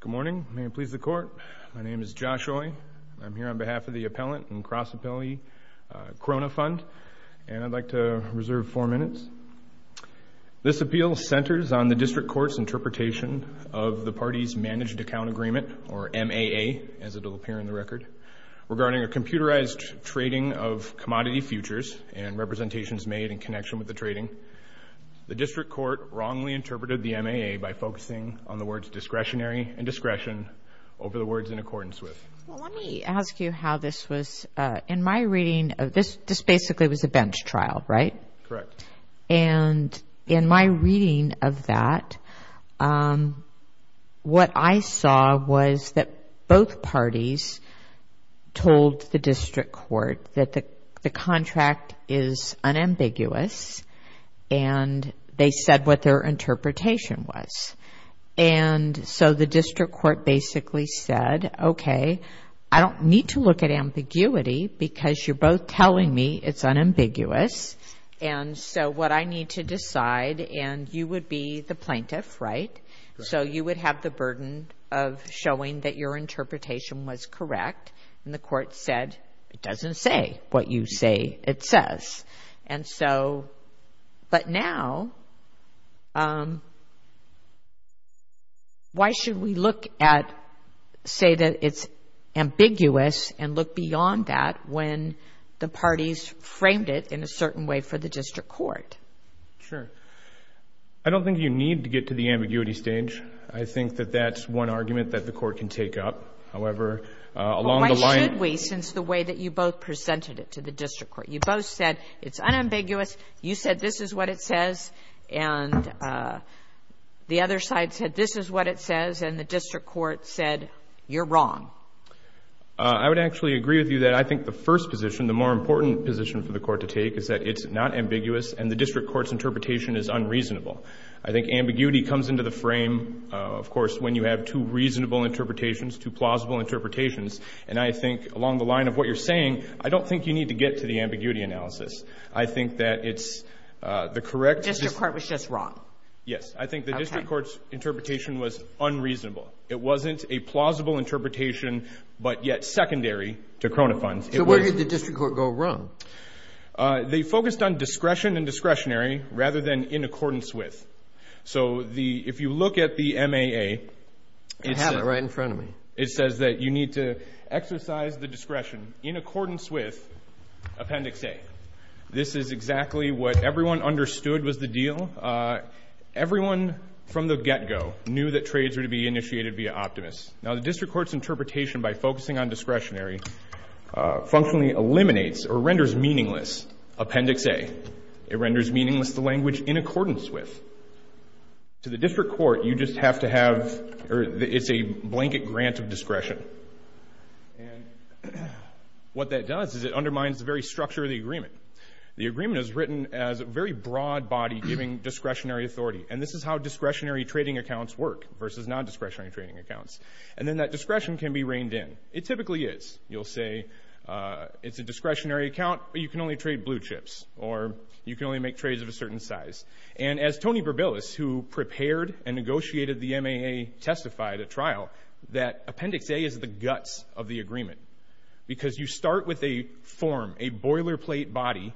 Good morning. May it please the Court. My name is Josh Oye. I'm here on behalf of the Appellant and Cross-Appellee Krohne Fund, and I'd like to reserve four minutes. This appeal centers on the District Court's interpretation of the Party's Managed Account Agreement, or MAA, as it will appear in the record, regarding a computerized trading of commodity futures and representations made in connection with the trading. The District Court wrongly interpreted the MAA by focusing on the words discretionary and discretion over the words in accordance with. Well, let me ask you how this was. In my reading, this basically was a bench trial, right? Correct. And in my reading of that, what I saw was that both parties told the District Court that the contract is unambiguous, and they said what their interpretation was. And so the District Court basically said, okay, I don't need to look at ambiguity because you're both telling me it's unambiguous, and so what I need to decide, and you would be the plaintiff, right? Correct. So you would have the burden of showing that your interpretation was correct, and the Court said it doesn't say what you say it says. And so, but now, why should we look at, say that it's ambiguous and look beyond that when the parties framed it in a certain way for the District Court? Sure. I don't think you need to get to the ambiguity stage. I think that that's one argument that the Court can take up. However, along the line— Why should we, since the way that you both presented it to the District Court? You both said it's unambiguous. You said this is what it says, and the other side said this is what it says, and the District Court said you're wrong. I would actually agree with you that I think the first position, the more important position for the Court to take, is that it's not ambiguous, and the District Court's interpretation is unreasonable. I think ambiguity comes into the frame, of course, when you have two reasonable interpretations, two plausible interpretations. And I think along the line of what you're saying, I don't think you need to get to the ambiguity analysis. I think that it's the correct— The District Court was just wrong. Yes. I think the District Court's interpretation was unreasonable. It wasn't a plausible interpretation, but yet secondary to Crona funds. So where did the District Court go wrong? They focused on discretion and discretionary rather than in accordance with. So if you look at the MAA— I have it right in front of me. It says that you need to exercise the discretion in accordance with Appendix A. This is exactly what everyone understood was the deal. Everyone from the get-go knew that trades were to be initiated via optimists. Now, the District Court's interpretation by focusing on discretionary functionally eliminates or renders meaningless Appendix A. It renders meaningless the language in accordance with. To the District Court, you just have to have—it's a blanket grant of discretion. And what that does is it undermines the very structure of the agreement. The agreement is written as a very broad body giving discretionary authority. And this is how discretionary trading accounts work versus non-discretionary trading accounts. And then that discretion can be reined in. It typically is. You'll say it's a discretionary account, but you can only trade blue chips or you can only make trades of a certain size. And as Tony Berbilis, who prepared and negotiated the MAA, testified at trial, that Appendix A is the guts of the agreement because you start with a form, a boilerplate body,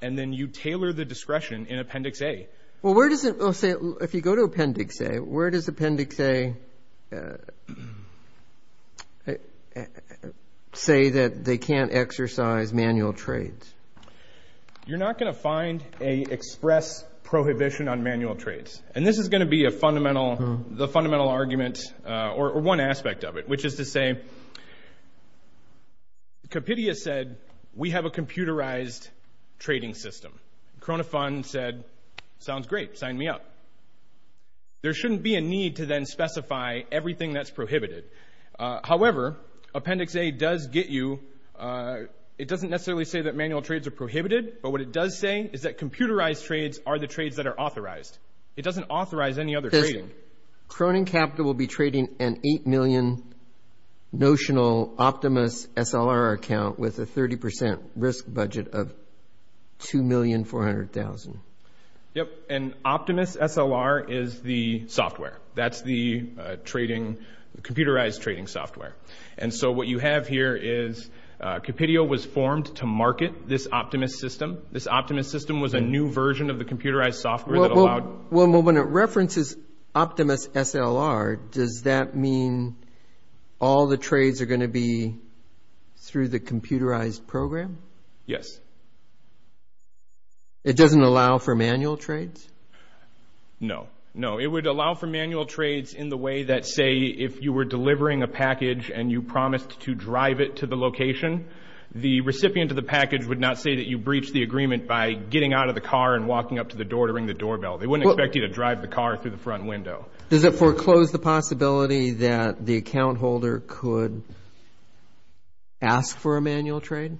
and then you tailor the discretion in Appendix A. Well, where does it—if you go to Appendix A, where does Appendix A say that they can't exercise manual trades? You're not going to find an express prohibition on manual trades. And this is going to be a fundamental—the fundamental argument or one aspect of it, which is to say, Compidia said, we have a computerized trading system. Corona Fund said, sounds great. Sign me up. There shouldn't be a need to then specify everything that's prohibited. However, Appendix A does get you—it doesn't necessarily say that manual trades are prohibited, but what it does say is that computerized trades are the trades that are authorized. It doesn't authorize any other trading. Listen, Cronin Capital will be trading an $8 million notional Optimus SLR account with a 30% risk budget of $2,400,000. Yep, and Optimus SLR is the software. That's the trading—computerized trading software. And so what you have here is Compidia was formed to market this Optimus system. This Optimus system was a new version of the computerized software that allowed— Well, when it references Optimus SLR, does that mean all the trades are going to be through the computerized program? Yes. It doesn't allow for manual trades? No, no. It would allow for manual trades in the way that, say, if you were delivering a package and you promised to drive it to the location, the recipient of the package would not say that you breached the agreement by getting out of the car and walking up to the door to ring the doorbell. They wouldn't expect you to drive the car through the front window. Does it foreclose the possibility that the account holder could ask for a manual trade?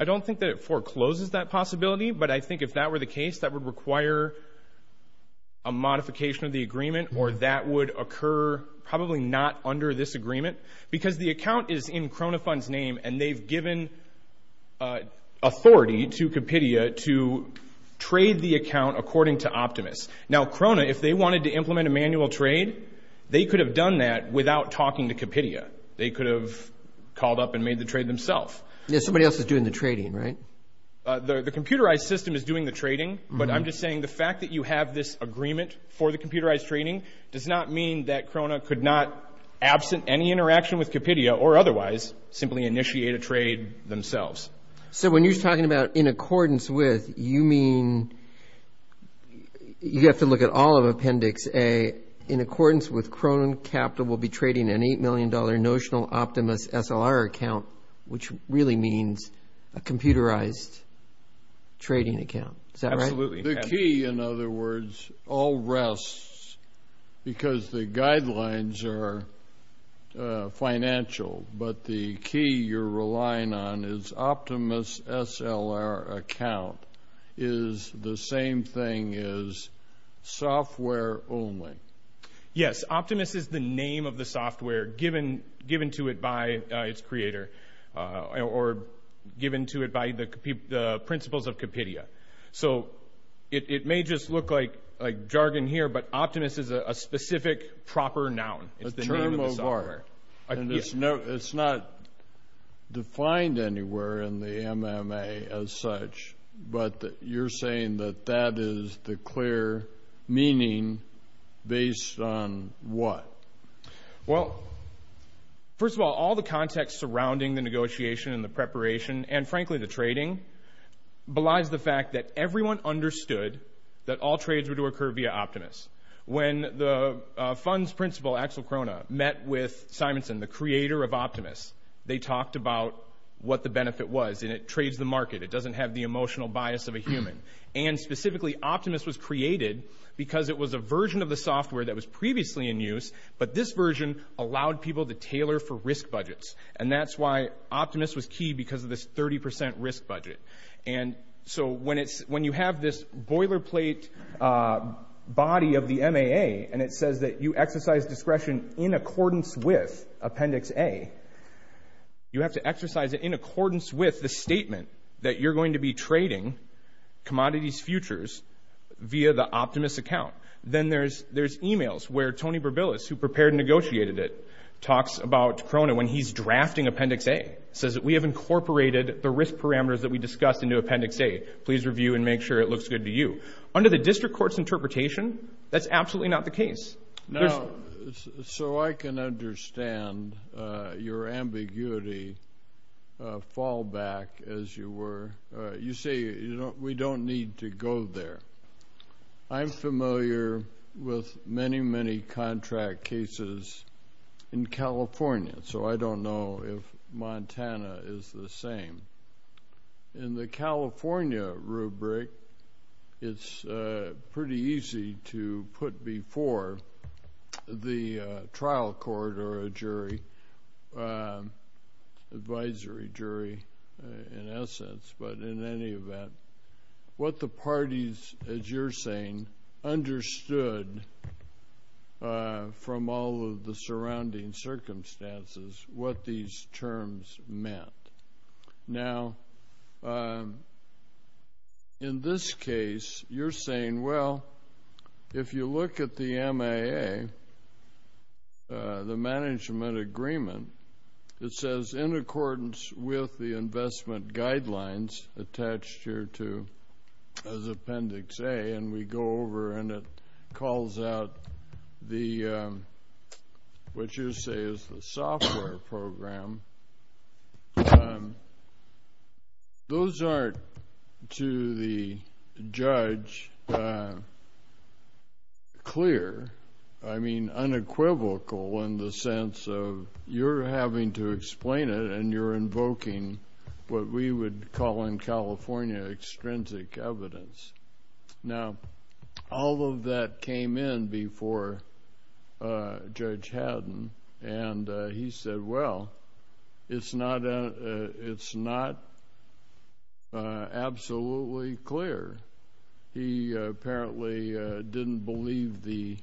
I don't think that it forecloses that possibility, but I think if that were the case, that would require a modification of the agreement, or that would occur probably not under this agreement because the account is in Krona Fund's name, and they've given authority to Compidia to trade the account according to Optimus. Now, Krona, if they wanted to implement a manual trade, they could have done that without talking to Compidia. They could have called up and made the trade themselves. Yeah, somebody else is doing the trading, right? The computerized system is doing the trading, but I'm just saying the fact that you have this agreement for the computerized trading does not mean that Krona could not, absent any interaction with Compidia or otherwise, simply initiate a trade themselves. So when you're talking about in accordance with, you mean you have to look at all of Appendix A. In accordance with Krona capital, we'll be trading an $8 million notional Optimus SLR account, which really means a computerized trading account. Is that right? Absolutely. The key, in other words, all rests because the guidelines are financial, but the key you're relying on is Optimus SLR account is the same thing as software only. Yes, Optimus is the name of the software given to it by its creator or given to it by the principles of Compidia. So it may just look like jargon here, but Optimus is a specific proper noun. It's the name of the software. A term of art, and it's not defined anywhere in the MMA as such, but you're saying that that is the clear meaning based on what? Well, first of all, all the context surrounding the negotiation and the preparation and, frankly, the trading, belies the fact that everyone understood that all trades were to occur via Optimus. When the funds principal, Axel Krona, met with Simonson, the creator of Optimus, they talked about what the benefit was, and it trades the market. It doesn't have the emotional bias of a human, and specifically Optimus was created because it was a version of the software that was previously in use, but this version allowed people to tailor for risk budgets, and that's why Optimus was key because of this 30 percent risk budget. And so when you have this boilerplate body of the MAA, and it says that you exercise discretion in accordance with Appendix A, you have to exercise it in accordance with the statement that you're going to be trading commodities futures via the Optimus account. Then there's emails where Tony Berbilis, who prepared and negotiated it, talks about Krona when he's drafting Appendix A. He says that we have incorporated the risk parameters that we discussed into Appendix A. Please review and make sure it looks good to you. Under the district court's interpretation, that's absolutely not the case. Now, so I can understand your ambiguity fallback, as you were. You say we don't need to go there. I'm familiar with many, many contract cases in California, so I don't know if Montana is the same. In the California rubric, it's pretty easy to put before the trial court or a jury, advisory jury in essence, but in any event, what the parties, as you're saying, understood from all of the surrounding circumstances what these terms meant. Now, in this case, you're saying, well, if you look at the MAA, the management agreement, it says in accordance with the investment guidelines attached here as Appendix A, and we go over and it calls out what you say is the software program. Those aren't, to the judge, clear. I mean unequivocal in the sense of you're having to explain it and you're invoking what we would call in California extrinsic evidence. Now, all of that came in before Judge Haddon, and he said, well, it's not absolutely clear. He apparently didn't believe the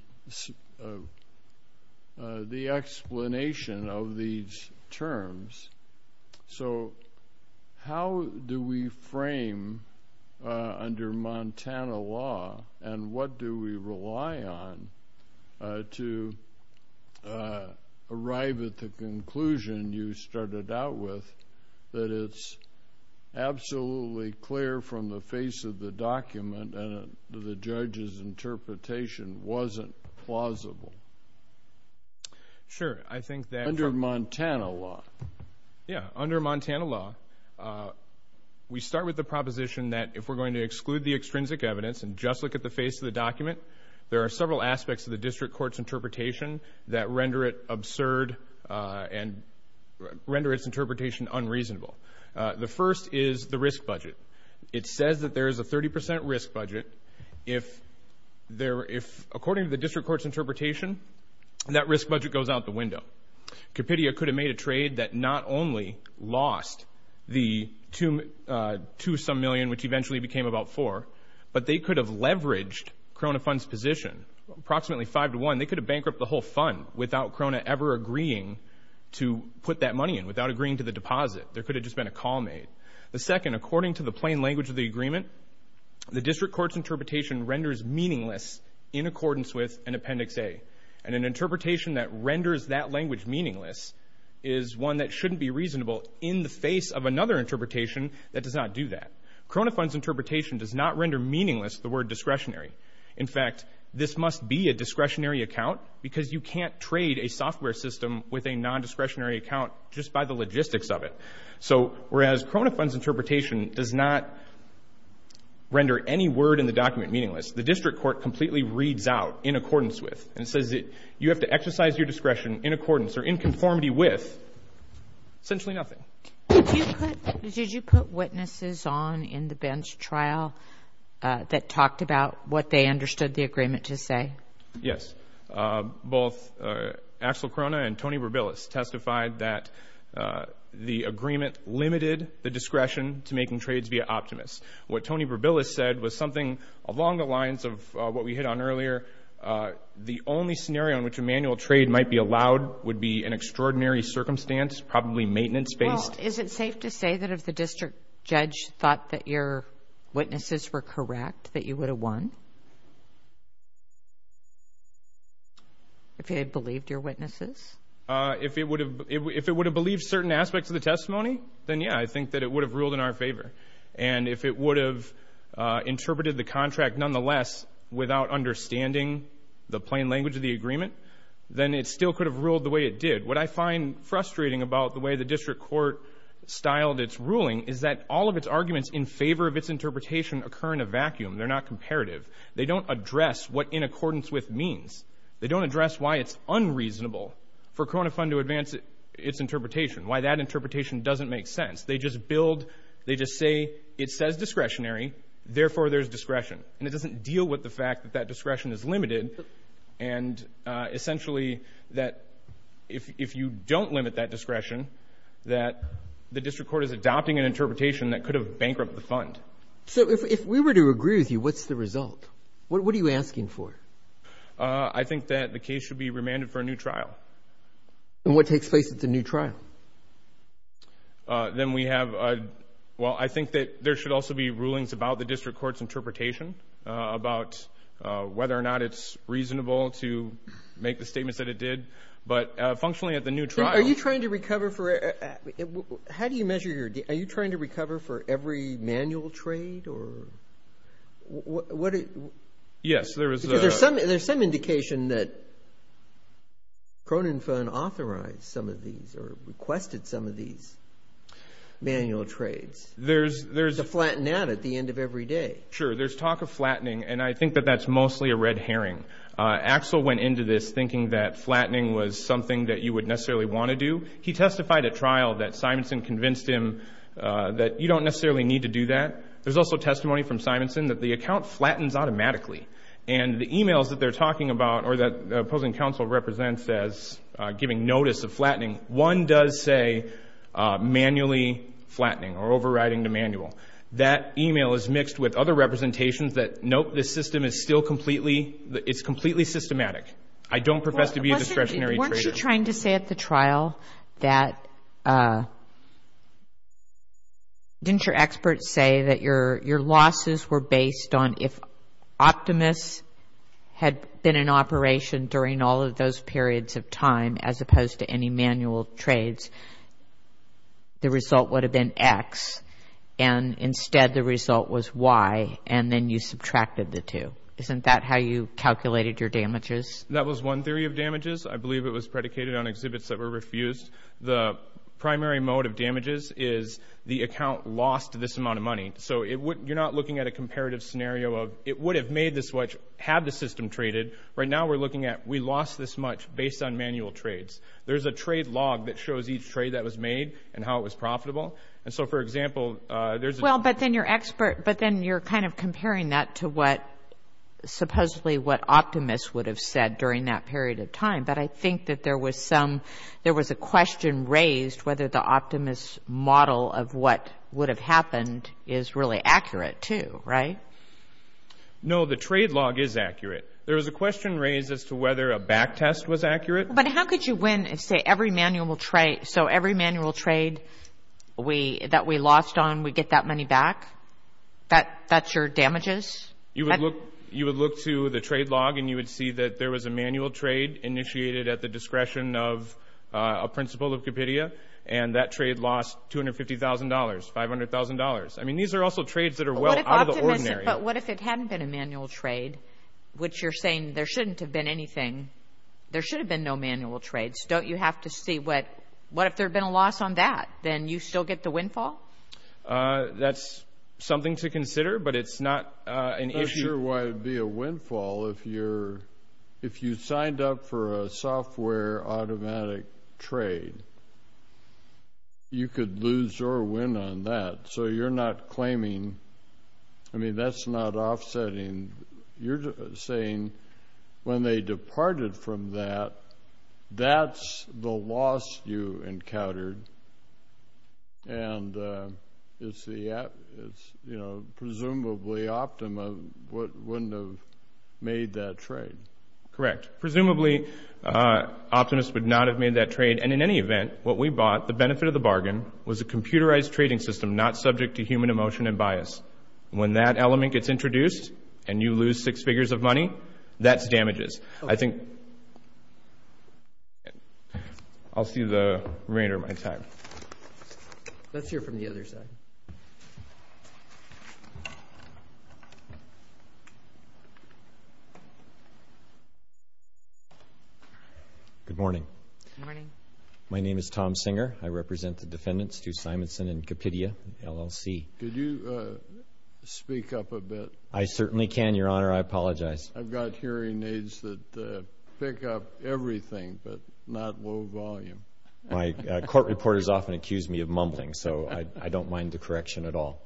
explanation of these terms. So how do we frame under Montana law, and what do we rely on to arrive at the conclusion you started out with that it's absolutely clear from the face of the document and the judge's interpretation wasn't plausible? Sure. Under Montana law. Yeah. Under Montana law, we start with the proposition that if we're going to exclude the extrinsic evidence and just look at the face of the document, there are several aspects of the district court's interpretation that render it absurd and render its interpretation unreasonable. The first is the risk budget. It says that there is a 30 percent risk budget. According to the district court's interpretation, that risk budget goes out the window. Compidia could have made a trade that not only lost the two-some million, which eventually became about four, but they could have leveraged Krona Fund's position, approximately five to one. They could have bankrupt the whole fund without Krona ever agreeing to put that money in, without agreeing to the deposit. There could have just been a call made. The second, according to the plain language of the agreement, the district court's interpretation renders meaningless in accordance with an Appendix A. And an interpretation that renders that language meaningless is one that shouldn't be reasonable in the face of another interpretation that does not do that. Krona Fund's interpretation does not render meaningless the word discretionary. In fact, this must be a discretionary account because you can't trade a software system with a nondiscretionary account just by the logistics of it. So whereas Krona Fund's interpretation does not render any word in the document meaningless, the district court completely reads out in accordance with and says that you have to exercise your discretion in accordance or in conformity with essentially nothing. Did you put witnesses on in the Bench trial that talked about what they understood the agreement to say? Yes. Both Axel Krona and Tony Berbilis testified that the agreement limited the discretion to making trades via Optimist. What Tony Berbilis said was something along the lines of what we hit on earlier. The only scenario in which a manual trade might be allowed would be an extraordinary circumstance, probably maintenance-based. Well, is it safe to say that if the district judge thought that your witnesses were correct that you would have won? If he had believed your witnesses? If it would have believed certain aspects of the testimony, then, yeah, I think that it would have ruled in our favor. And if it would have interpreted the contract nonetheless without understanding the plain language of the agreement, then it still could have ruled the way it did. What I find frustrating about the way the district court styled its ruling is that all of its arguments in favor of its interpretation occur in a vacuum. They're not comparative. They don't address what in accordance with means. They don't address why it's unreasonable for Krona Fund to advance its interpretation, why that interpretation doesn't make sense. They just build, they just say it says discretionary, therefore there's discretion. And it doesn't deal with the fact that that discretion is limited and essentially that if you don't limit that discretion, that the district court is adopting an interpretation that could have bankrupt the fund. So if we were to agree with you, what's the result? What are you asking for? I think that the case should be remanded for a new trial. And what takes place at the new trial? Then we have a, well, I think that there should also be rulings about the district court's interpretation, about whether or not it's reasonable to make the statements that it did. But functionally at the new trial. Are you trying to recover for, how do you measure your, are you trying to recover for every manual trade or what? Yes, there is. Because there's some indication that Kronen Fund authorized some of these or requested some of these manual trades. There's. To flatten out at the end of every day. Sure, there's talk of flattening, and I think that that's mostly a red herring. Axel went into this thinking that flattening was something that you would necessarily want to do. He testified at trial that Simonson convinced him that you don't necessarily need to do that. There's also testimony from Simonson that the account flattens automatically. And the e-mails that they're talking about or that opposing counsel represents as giving notice of flattening, one does say manually flattening or overriding the manual. That e-mail is mixed with other representations that, nope, this system is still completely, it's completely systematic. I don't profess to be a discretionary trader. Weren't you trying to say at the trial that, didn't your experts say that your losses were based on if Optimus had been in operation during all of those periods of time as opposed to any manual trades, the result would have been X, and instead the result was Y, and then you subtracted the two. Isn't that how you calculated your damages? That was one theory of damages. I believe it was predicated on exhibits that were refused. The primary mode of damages is the account lost this amount of money. So you're not looking at a comparative scenario of it would have made this much had the system traded. Right now we're looking at we lost this much based on manual trades. There's a trade log that shows each trade that was made and how it was profitable. And so, for example, there's a- But then you're kind of comparing that to what, supposedly what Optimus would have said during that period of time. But I think that there was some, there was a question raised whether the Optimus model of what would have happened is really accurate too, right? No, the trade log is accurate. There was a question raised as to whether a back test was accurate. But how could you win and say every manual trade, so every manual trade that we lost on, we get that money back? That's your damages? You would look to the trade log, and you would see that there was a manual trade initiated at the discretion of a principal of Capitia, and that trade lost $250,000, $500,000. I mean, these are also trades that are well out of the ordinary. But what if it hadn't been a manual trade, which you're saying there shouldn't have been anything? There should have been no manual trades. Don't you have to see what, what if there had been a loss on that? Then you still get the windfall? That's something to consider, but it's not an issue. I'm not sure why it would be a windfall if you signed up for a software automatic trade. You could lose or win on that. So you're not claiming, I mean, that's not offsetting. You're saying when they departed from that, that's the loss you encountered, and it's, you know, presumably Optima wouldn't have made that trade. Correct. Presumably, Optimus would not have made that trade. And in any event, what we bought, the benefit of the bargain, was a computerized trading system not subject to human emotion and bias. When that element gets introduced and you lose six figures of money, that's damages. I think I'll see the remainder of my time. Let's hear from the other side. Good morning. Good morning. My name is Tom Singer. I represent the defendants, Stu Simonson and Capidia, LLC. Could you speak up a bit? I certainly can, Your Honor. I apologize. I've got hearing aids that pick up everything but not low volume. My court reporters often accuse me of mumbling, so I don't mind the correction at all.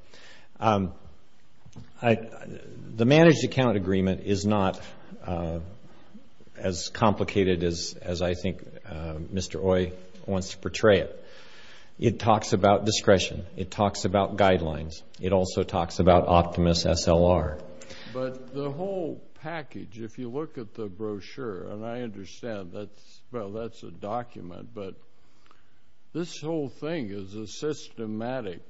The managed account agreement is not as complicated as I think Mr. Oye wants to portray it. It talks about discretion. It talks about guidelines. It also talks about Optimus SLR. But the whole package, if you look at the brochure, and I understand that's a document, but this whole thing is a systematic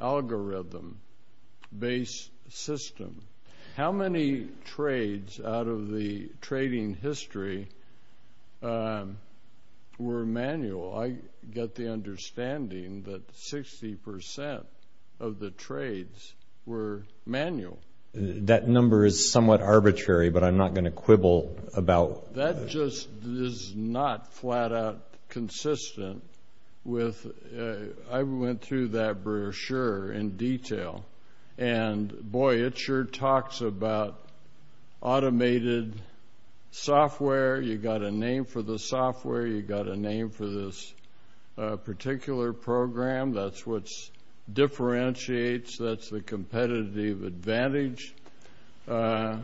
algorithm-based system. How many trades out of the trading history were manual? I get the understanding that 60% of the trades were manual. That number is somewhat arbitrary, but I'm not going to quibble about it. That just is not flat-out consistent. I went through that brochure in detail, and, boy, it sure talks about automated software. You've got a name for the software. You've got a name for this particular program. That's what differentiates. That's the competitive advantage. Boy,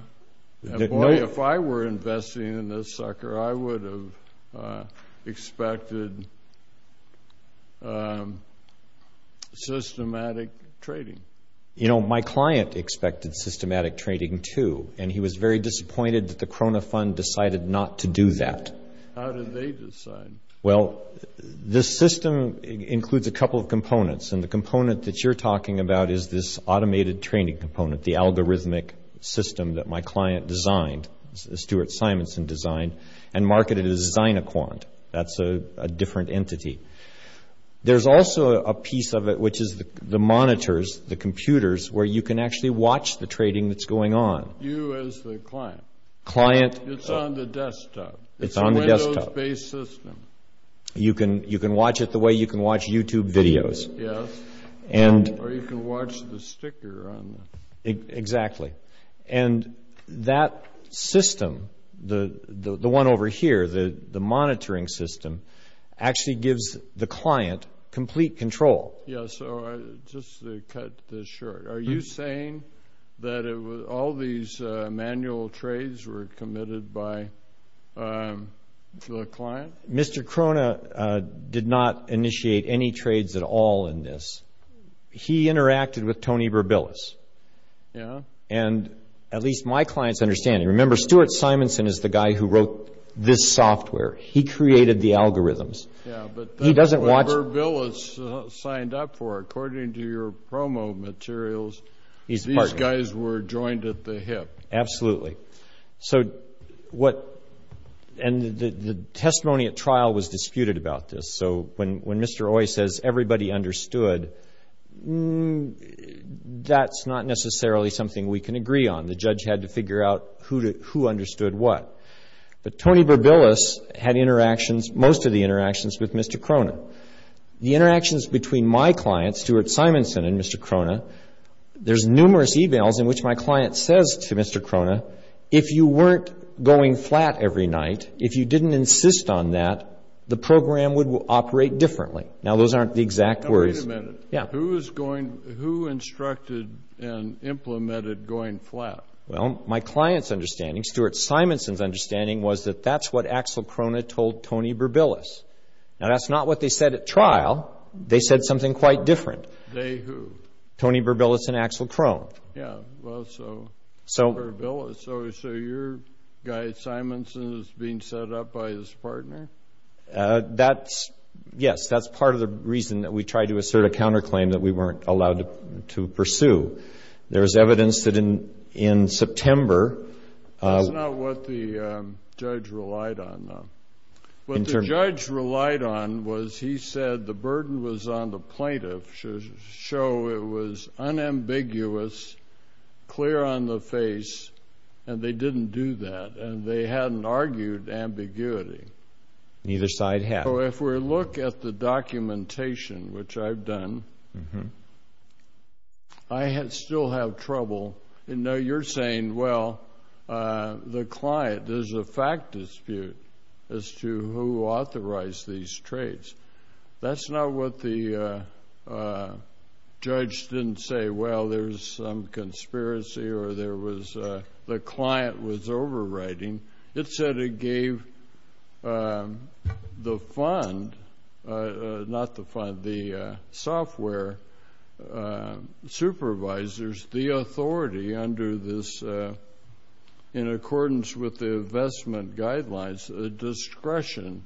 if I were investing in this sucker, I would have expected systematic trading. You know, my client expected systematic trading too, and he was very disappointed that the Krona Fund decided not to do that. How did they decide? Well, this system includes a couple of components, and the component that you're talking about is this automated training component, the algorithmic system that my client designed, Stuart Simonson designed, and marketed it as Zyniquant. That's a different entity. There's also a piece of it which is the monitors, the computers, where you can actually watch the trading that's going on. You as the client. Client. It's on the desktop. It's a Windows-based system. You can watch it the way you can watch YouTube videos. Yes. Or you can watch the sticker on it. Exactly. And that system, the one over here, the monitoring system, actually gives the client complete control. Yes. So just to cut this short, are you saying that all these manual trades were committed by the client? Mr. Krona did not initiate any trades at all in this. He interacted with Tony Berbilis. Yes. And at least my client's understanding. Remember, Stuart Simonson is the guy who wrote this software. He created the algorithms. Yes, but Berbilis signed up for it. According to your promo materials, these guys were joined at the hip. Absolutely. And the testimony at trial was disputed about this. So when Mr. Oyes says everybody understood, that's not necessarily something we can agree on. The judge had to figure out who understood what. But Tony Berbilis had interactions, most of the interactions, with Mr. Krona. The interactions between my clients, Stuart Simonson and Mr. Krona, there's numerous e-mails in which my client says to Mr. Krona, if you weren't going flat every night, if you didn't insist on that, the program would operate differently. Now, those aren't the exact words. Now, wait a minute. Yeah. Who instructed and implemented going flat? Well, my client's understanding, Stuart Simonson's understanding, was that that's what Axel Krona told Tony Berbilis. Now, that's not what they said at trial. They said something quite different. They who? Tony Berbilis and Axel Krona. Yeah. Well, so Berbilis. So your guy Simonson is being set up by his partner? Yes. That's part of the reason that we tried to assert a counterclaim that we weren't allowed to pursue. There's evidence that in September. That's not what the judge relied on, though. What the judge relied on was he said the burden was on the plaintiff, so it was unambiguous, clear on the face, and they didn't do that, and they hadn't argued ambiguity. Neither side had. So if we look at the documentation, which I've done, I still have trouble. No, you're saying, well, the client, there's a fact dispute as to who authorized these trades. That's not what the judge didn't say. Well, there's some conspiracy or the client was overriding. It said it gave the fund, not the fund, the software supervisors the authority under this, in accordance with the investment guidelines, a discretion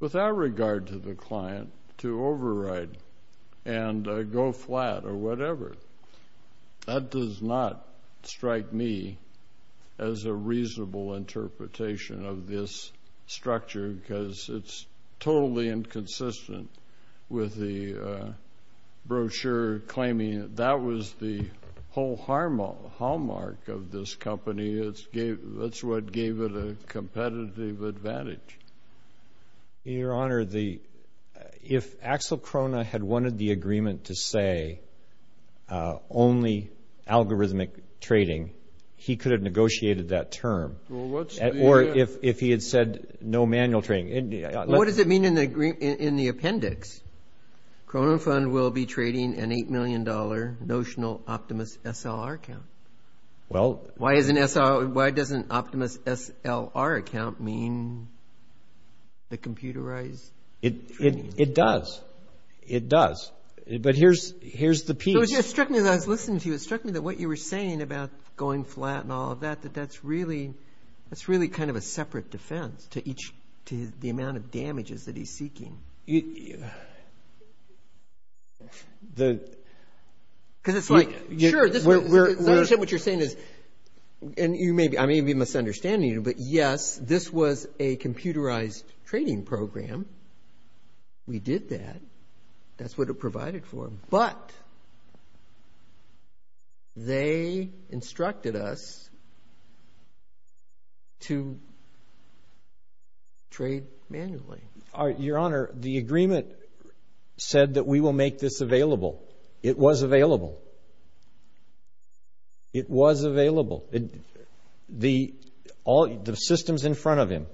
without regard to the client to override and go flat or whatever. That does not strike me as a reasonable interpretation of this structure because it's totally inconsistent with the brochure claiming that was the whole hallmark of this company. That's what gave it a competitive advantage. Your Honor, if Axel Krona had wanted the agreement to say only algorithmic trading, he could have negotiated that term, or if he had said no manual trading. What does it mean in the appendix? Kronon Fund will be trading an $8 million notional Optimus SLR account. Why does an Optimus SLR account mean the computerized trading? It does. It does. But here's the piece. It struck me as I was listening to you. It struck me that what you were saying about going flat and all of that, that that's really kind of a separate defense to the amount of damages that he's seeking. Because it's like, sure, what you're saying is, and I may be misunderstanding you, but yes, this was a computerized trading program. We did that. That's what it provided for. But they instructed us to trade manually. Your Honor, the agreement said that we will make this available. It was available. It was available. The systems in front of him,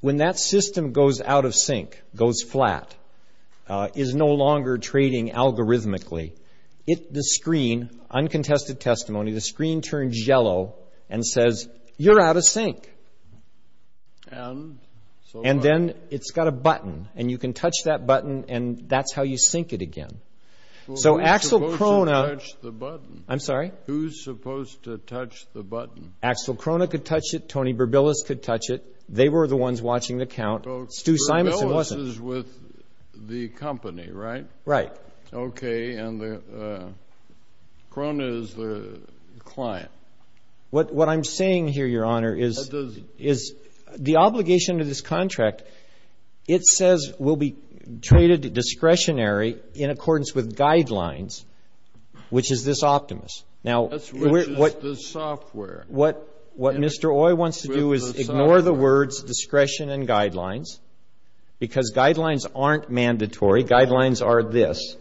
when that system goes out of sync, goes flat, is no longer trading algorithmically, the screen, uncontested testimony, the screen turns yellow and says, you're out of sync. And so what? And then it's got a button, and you can touch that button, and that's how you sync it again. So Axel Krohne. Who's supposed to touch the button? I'm sorry? Who's supposed to touch the button? Axel Krohne could touch it. Tony Berbilis could touch it. They were the ones watching the count. Stu Simonson wasn't. Berbilis is with the company, right? Right. Okay. And Krohne is the client. What I'm saying here, Your Honor, is. The obligation to this contract, it says, will be traded discretionary in accordance with guidelines, which is this optimist. Which is the software. What Mr. Oye wants to do is ignore the words discretion and guidelines, because guidelines aren't mandatory. Guidelines are this.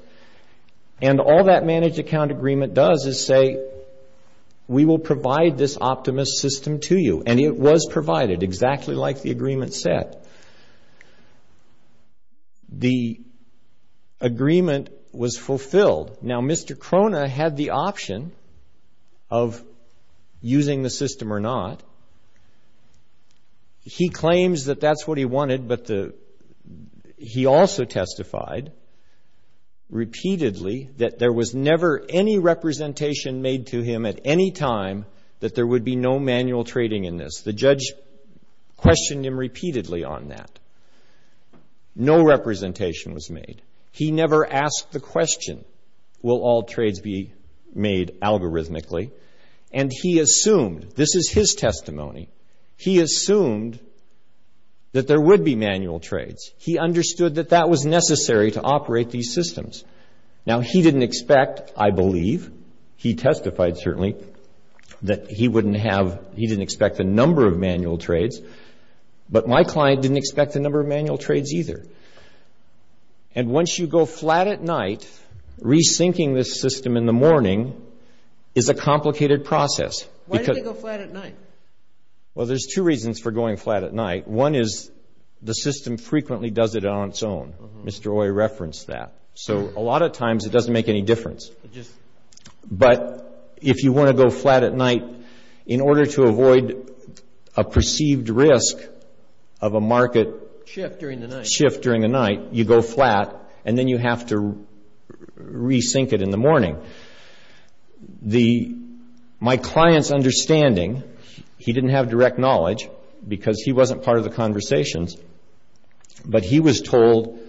And all that managed account agreement does is say, we will provide this optimist system to you. And it was provided, exactly like the agreement said. The agreement was fulfilled. Now, Mr. Krohne had the option of using the system or not. He claims that that's what he wanted, but he also testified repeatedly that there was never any representation made to him at any time that there would be no manual trading in this. The judge questioned him repeatedly on that. No representation was made. He never asked the question, will all trades be made algorithmically? And he assumed, this is his testimony, he assumed that there would be manual trades. He understood that that was necessary to operate these systems. Now, he didn't expect, I believe. He testified, certainly, that he wouldn't have, he didn't expect a number of manual trades. But my client didn't expect a number of manual trades either. And once you go flat at night, re-syncing this system in the morning is a complicated process. Why do they go flat at night? Well, there's two reasons for going flat at night. One is the system frequently does it on its own. Mr. Oye referenced that. So a lot of times it doesn't make any difference. But if you want to go flat at night, in order to avoid a perceived risk of a market shift during the night, you go flat and then you have to re-sync it in the morning. My client's understanding, he didn't have direct knowledge because he wasn't part of the conversations, but he was told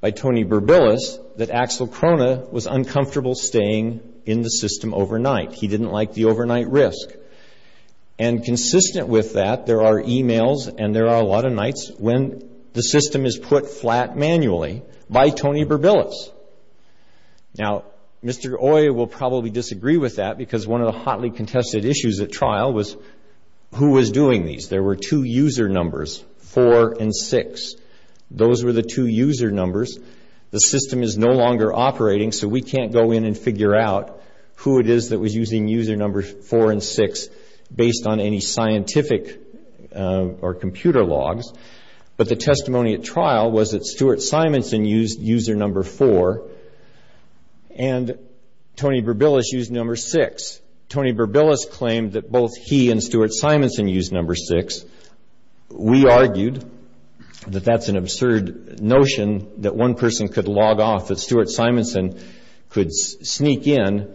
by Tony Berbilis that Axel Krohne was uncomfortable staying in the system overnight. He didn't like the overnight risk. And consistent with that, there are emails and there are a lot of nights when the system is put flat manually by Tony Berbilis. Now, Mr. Oye will probably disagree with that because one of the hotly contested issues at trial was who was doing these. There were two user numbers, 4 and 6. Those were the two user numbers. The system is no longer operating, so we can't go in and figure out who it is that was using user numbers 4 and 6 based on any scientific or computer logs. But the testimony at trial was that Stuart Simonson used user number 4 and Tony Berbilis used number 6. Tony Berbilis claimed that both he and Stuart Simonson used number 6. We argued that that's an absurd notion that one person could log off, that Stuart Simonson could sneak in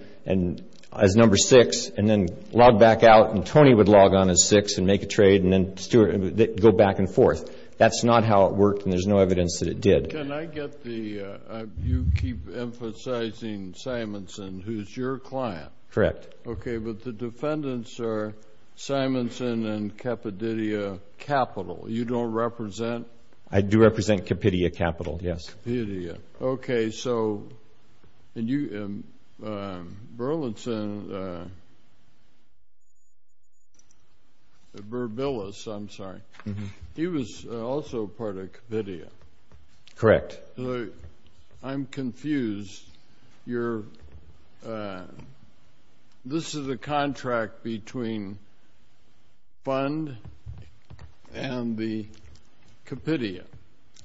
as number 6 and then log back out and Tony would log on as 6 and make a trade and then go back and forth. That's not how it worked and there's no evidence that it did. Can I get the, you keep emphasizing Simonson, who's your client. Correct. Okay, but the defendants are Simonson and Cappadidia Capital. You don't represent? I do represent Cappadia Capital, yes. Cappadia. Okay, so Berlinson, Berbilis, I'm sorry, he was also part of Cappadia. Correct. I'm confused. This is a contract between fund and the Cappadia.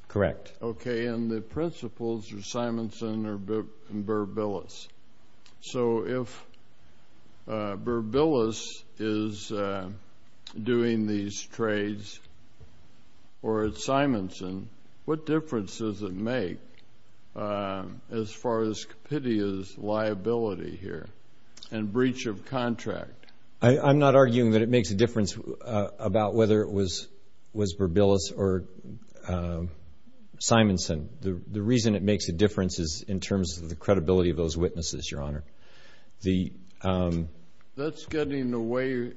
Correct. Okay, and the principals are Simonson and Berbilis. So if Berbilis is doing these trades or Simonson, what difference does it make as far as Cappadia's liability here and breach of contract? I'm not arguing that it makes a difference about whether it was Berbilis or Simonson. The reason it makes a difference is in terms of the credibility of those witnesses, Your Honor. That's getting in the way.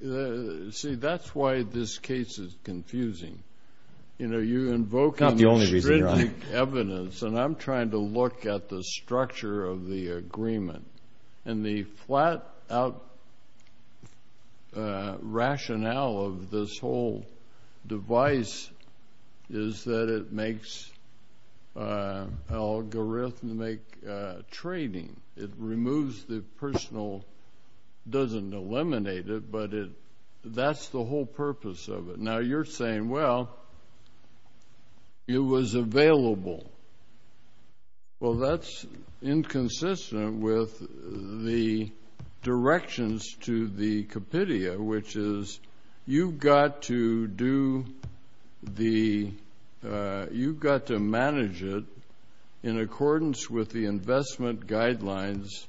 See, that's why this case is confusing. You know, you invoke on the evidence, and I'm trying to look at the structure of the agreement. And the flat-out rationale of this whole device is that it makes algorithmic trading. It removes the personal. It doesn't eliminate it, but that's the whole purpose of it. Now, you're saying, well, it was available. Well, that's inconsistent with the directions to the Cappadia, which is you've got to manage it in accordance with the investment guidelines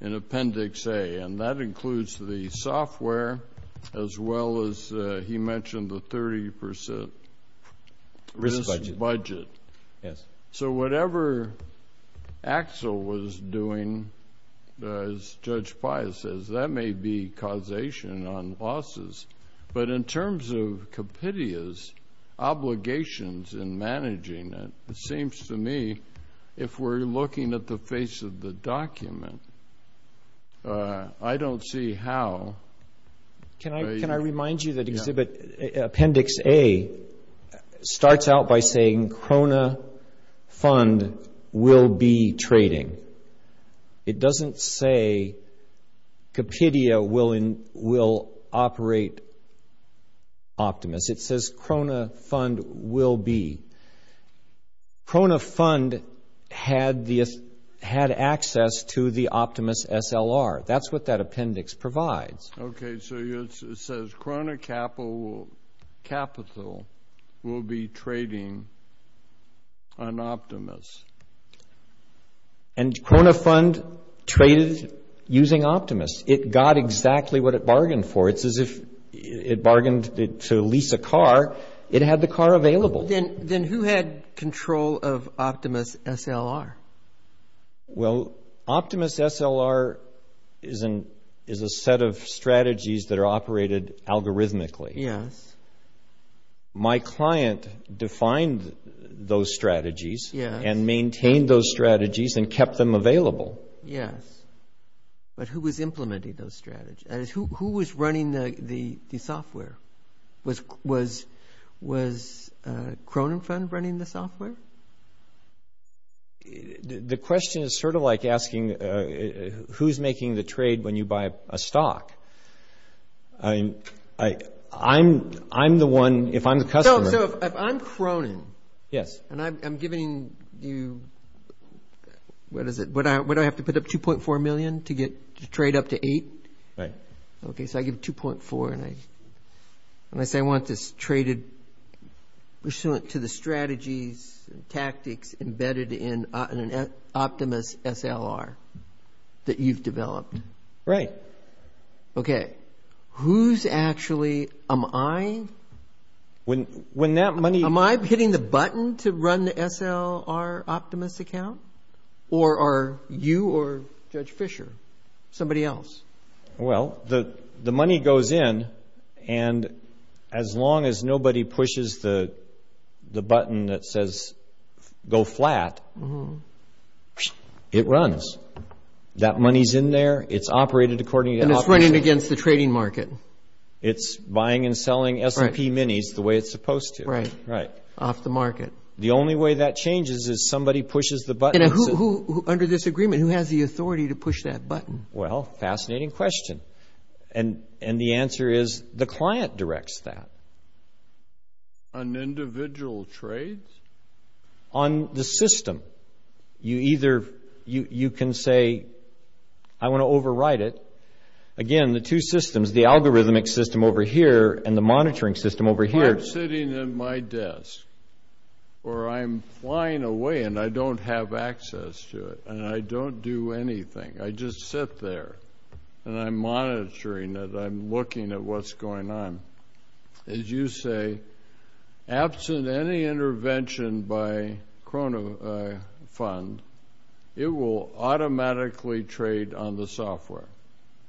in Appendix A, and that includes the software as well as he mentioned the 30% risk budget. Yes. So whatever Axel was doing, as Judge Paya says, that may be causation on losses. But in terms of Cappadia's obligations in managing it, it seems to me if we're looking at the face of the document, I don't see how. Can I remind you that Appendix A starts out by saying Crona Fund will be trading. It doesn't say Cappadia will operate Optimus. It says Crona Fund will be. Crona Fund had access to the Optimus SLR. That's what that appendix provides. Okay. So it says Crona Capital will be trading on Optimus. And Crona Fund traded using Optimus. It got exactly what it bargained for. It's as if it bargained to lease a car. It had the car available. Then who had control of Optimus SLR? Well, Optimus SLR is a set of strategies that are operated algorithmically. Yes. My client defined those strategies and maintained those strategies and kept them available. Yes. But who was implementing those strategies? Who was running the software? Was Crona Fund running the software? The question is sort of like asking who's making the trade when you buy a stock. I'm the one, if I'm the customer. So if I'm Crona. Yes. And I'm giving you – what is it? Would I have to put up $2.4 million to trade up to $8? Right. Okay. So I give $2.4 and I say I want this traded pursuant to the strategies and tactics embedded in an Optimus SLR that you've developed. Right. Okay. Who's actually – am I – When that money – Am I hitting the button to run the SLR Optimus account or are you or Judge Fischer, somebody else? Well, the money goes in and as long as nobody pushes the button that says go flat, it runs. That money's in there. It's operated according to – And it's running against the trading market. It's buying and selling S&P minis the way it's supposed to. Right. Off the market. The only way that changes is somebody pushes the button. And who – under this agreement, who has the authority to push that button? Well, fascinating question. And the answer is the client directs that. On individual trades? On the system. You either – you can say I want to overwrite it. Again, the two systems, the algorithmic system over here and the monitoring system over here. I'm sitting at my desk or I'm flying away and I don't have access to it and I don't do anything. I just sit there and I'm monitoring it. I'm looking at what's going on. As you say, absent any intervention by Krono Fund, it will automatically trade on the software.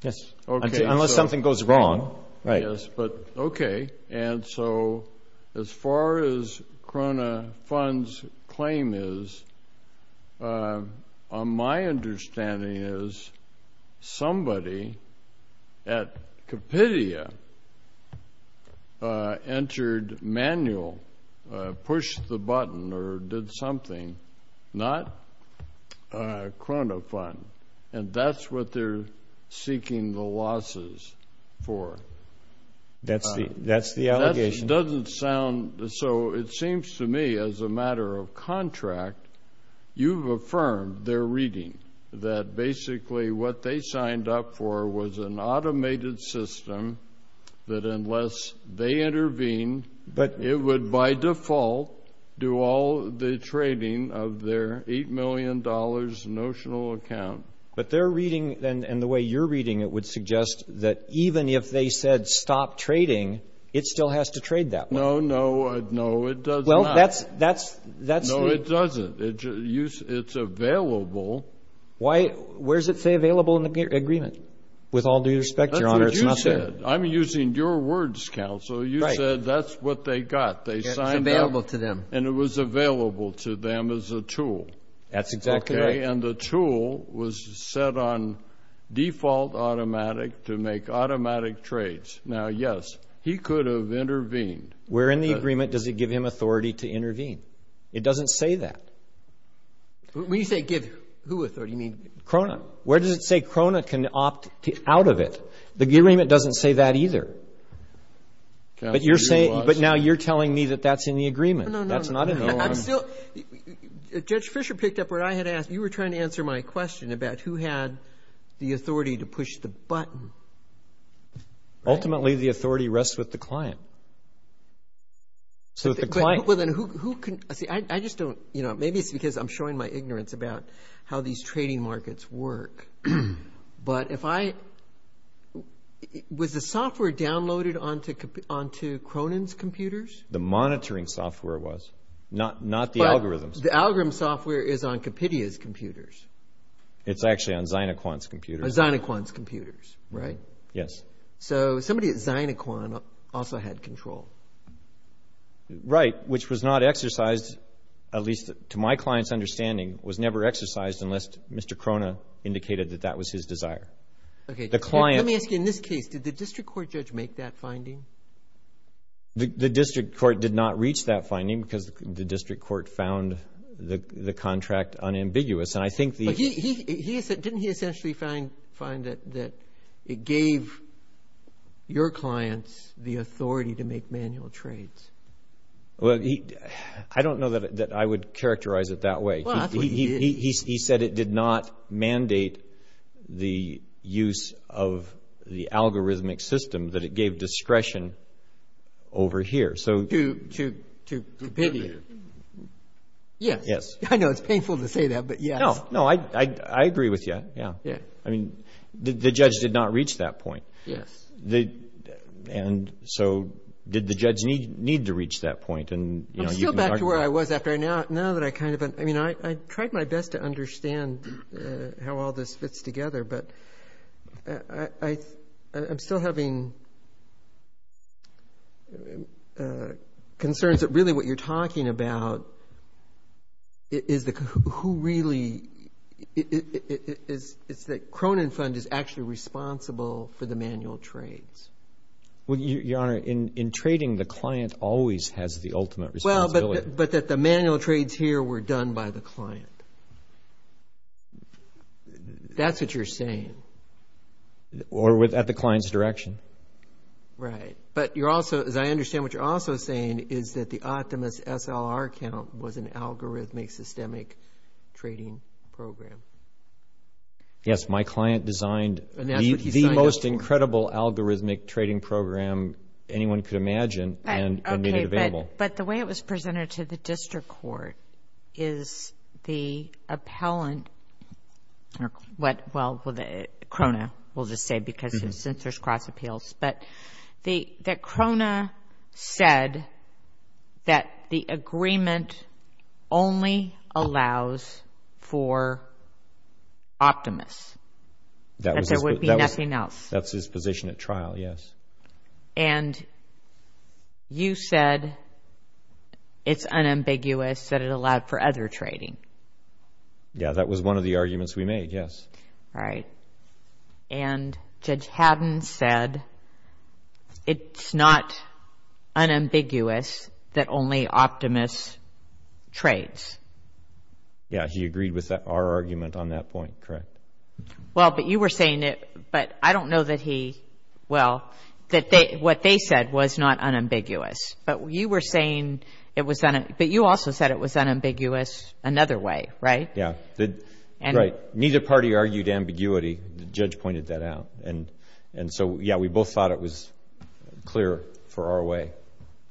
Yes. Unless something goes wrong. Right. Yes. But okay. And so as far as Krono Fund's claim is, my understanding is somebody at Kapitia entered manual, pushed the button or did something, not Krono Fund. And that's what they're seeking the losses for. That's the allegation. That doesn't sound – so it seems to me as a matter of contract, you've affirmed their reading, that basically what they signed up for was an automated system that unless they intervene, it would by default do all the trading of their $8 million notional account. But their reading and the way you're reading it would suggest that even if they said stop trading, it still has to trade that way. No, no. No, it does not. Well, that's the – No, it doesn't. It's available. Why – where does it say available in the agreement? With all due respect, Your Honor, it's not there. That's what you said. I'm using your words, counsel. You said that's what they got. It was available to them. And it was available to them as a tool. That's exactly right. And the tool was set on default automatic to make automatic trades. Now, yes, he could have intervened. Where in the agreement does it give him authority to intervene? It doesn't say that. When you say give who authority, you mean – Krono. Where does it say Krono can opt out of it? The agreement doesn't say that either. But you're saying – but now you're telling me that that's in the agreement. No, no. That's not in the agreement. I'm still – Judge Fischer picked up what I had asked. You were trying to answer my question about who had the authority to push the button. Ultimately, the authority rests with the client. So the client – Well, then, who can – see, I just don't – maybe it's because I'm showing my ignorance about how these trading markets work. But if I – was the software downloaded onto Cronin's computers? The monitoring software was, not the algorithms. But the algorithm software is on Kapitia's computers. It's actually on Zynequan's computers. On Zynequan's computers, right? Yes. So somebody at Zynequan also had control. Right, which was not exercised, at least to my client's understanding, was never exercised unless Mr. Cronin indicated that that was his desire. Okay. The client – Let me ask you, in this case, did the district court judge make that finding? The district court did not reach that finding because the district court found the contract unambiguous. And I think the – But he – didn't he essentially find that it gave your clients the authority to make manual trades? Well, I don't know that I would characterize it that way. He said it did not mandate the use of the algorithmic system that it gave discretion over here. To Kapitia. Yes. Yes. I know it's painful to say that, but yes. No, no, I agree with you, yeah. I mean, the judge did not reach that point. Yes. And so did the judge need to reach that point? I'm still back to where I was after I – now that I kind of – I mean, I tried my best to understand how all this fits together, but I'm still having concerns that really what you're talking about is the – who really – it's that Cronin Fund is actually responsible for the manual trades. Well, Your Honor, in trading, the client always has the ultimate responsibility. Well, but that the manual trades here were done by the client. That's what you're saying. Or at the client's direction. Right. But you're also – as I understand what you're also saying is that the Optimist SLR account was an algorithmic systemic trading program. Yes, my client designed the most incredible algorithmic trading program anyone could imagine and made it available. But the way it was presented to the district court is the appellant – or what – well, Cronin will just say because he censors cross appeals, but that Cronin said that the agreement only allows for Optimist. That there would be nothing else. That's his position at trial, yes. And you said it's unambiguous that it allowed for other trading. Yeah, that was one of the arguments we made, yes. All right. And Judge Haddon said it's not unambiguous that only Optimist trades. Yeah, he agreed with our argument on that point, correct. Well, but you were saying that – but I don't know that he – well, that what they said was not unambiguous. But you were saying it was – but you also said it was unambiguous another way, right? Yeah. Right. Neither party argued ambiguity. The judge pointed that out. And so, yeah, we both thought it was clear for our way.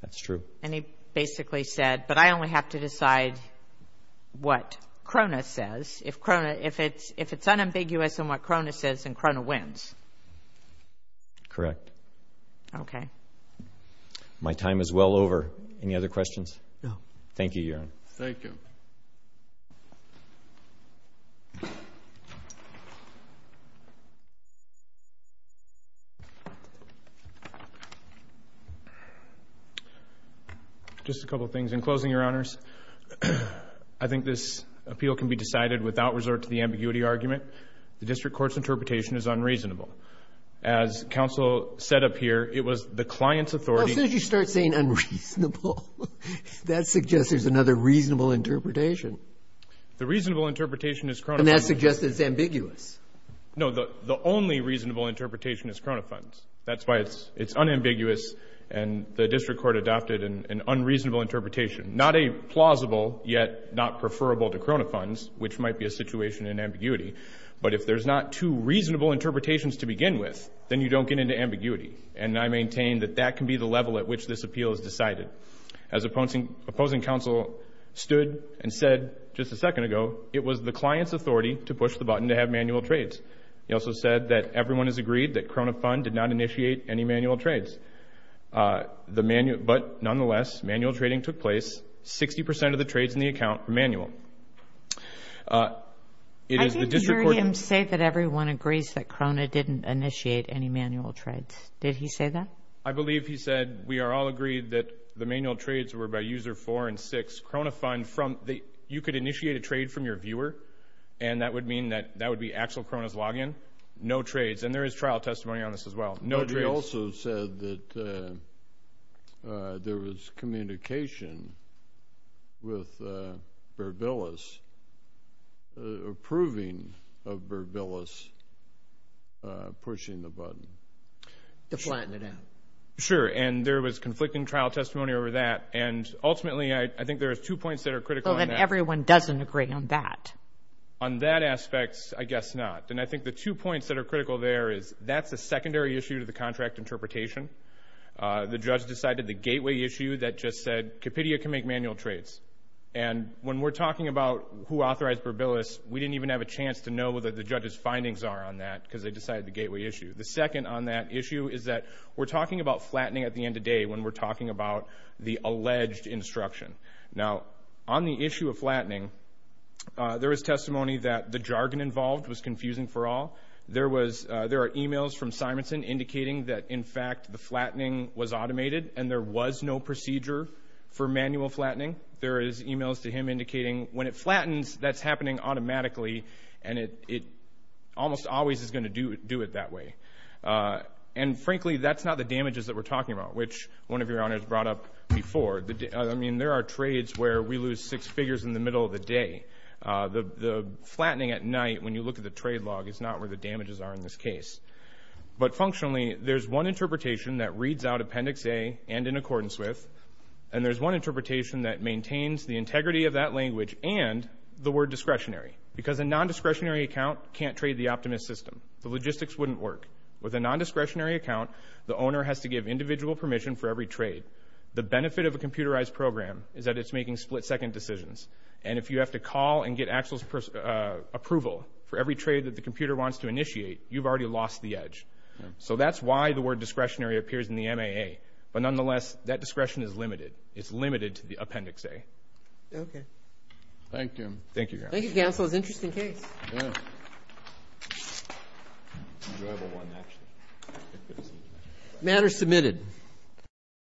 That's true. And he basically said, but I only have to decide what Cronin says. If it's unambiguous in what Cronin says, then Cronin wins. Correct. Okay. My time is well over. Any other questions? No. Thank you, Your Honor. Thank you. Just a couple things. In closing, Your Honors, I think this appeal can be decided without resort to the ambiguity argument. The district court's interpretation is unreasonable. As counsel said up here, it was the client's authority – As soon as you start saying unreasonable, that suggests there's another reasonable interpretation. The reasonable interpretation is – And that suggests it's ambiguous. No. The only reasonable interpretation is Cronin funds. That's why it's unambiguous, and the district court adopted an unreasonable interpretation. Not a plausible, yet not preferable to Cronin funds, which might be a situation in ambiguity. But if there's not two reasonable interpretations to begin with, then you don't get into ambiguity. And I maintain that that can be the level at which this appeal is decided. As opposing counsel stood and said just a second ago, it was the client's authority to push the button to have manual trades. He also said that everyone has agreed that Cronin fund did not initiate any manual trades. But nonetheless, manual trading took place. Sixty percent of the trades in the account were manual. I didn't hear him say that everyone agrees that Cronin didn't initiate any manual trades. Did he say that? I believe he said we are all agreed that the manual trades were by user four and six. You could initiate a trade from your viewer, and that would mean that that would be actual Cronin's login. No trades. And there is trial testimony on this as well. But he also said that there was communication with Burbillis approving of Burbillis pushing the button. To flatten it out. Sure. And there was conflicting trial testimony over that. And ultimately, I think there are two points that are critical. So that everyone doesn't agree on that. On that aspect, I guess not. And I think the two points that are critical there is that's a secondary issue to the contract interpretation. The judge decided the gateway issue that just said Kapitia can make manual trades. And when we're talking about who authorized Burbillis, we didn't even have a chance to know what the judge's findings are on that because they decided the gateway issue. The second on that issue is that we're talking about flattening at the end of day when we're talking about the alleged instruction. Now, on the issue of flattening, there is testimony that the jargon involved was confusing for all. There are e-mails from Simonson indicating that, in fact, the flattening was automated, and there was no procedure for manual flattening. There is e-mails to him indicating when it flattens, that's happening automatically, and it almost always is going to do it that way. And, frankly, that's not the damages that we're talking about, which one of your honors brought up before. I mean, there are trades where we lose six figures in the middle of the day. The flattening at night, when you look at the trade log, is not where the damages are in this case. But, functionally, there's one interpretation that reads out Appendix A and in accordance with, and there's one interpretation that maintains the integrity of that language and the word discretionary because a non-discretionary account can't trade the Optimist system. The logistics wouldn't work. With a non-discretionary account, the owner has to give individual permission for every trade. The benefit of a computerized program is that it's making split-second decisions, and if you have to call and get Axel's approval for every trade that the computer wants to initiate, you've already lost the edge. So that's why the word discretionary appears in the MAA. But, nonetheless, that discretion is limited. It's limited to the Appendix A. Okay. Thank you. Thank you, Counsel. Thank you, Counsel. It was an interesting case. Yeah. It was an enjoyable one, actually. The matter is submitted.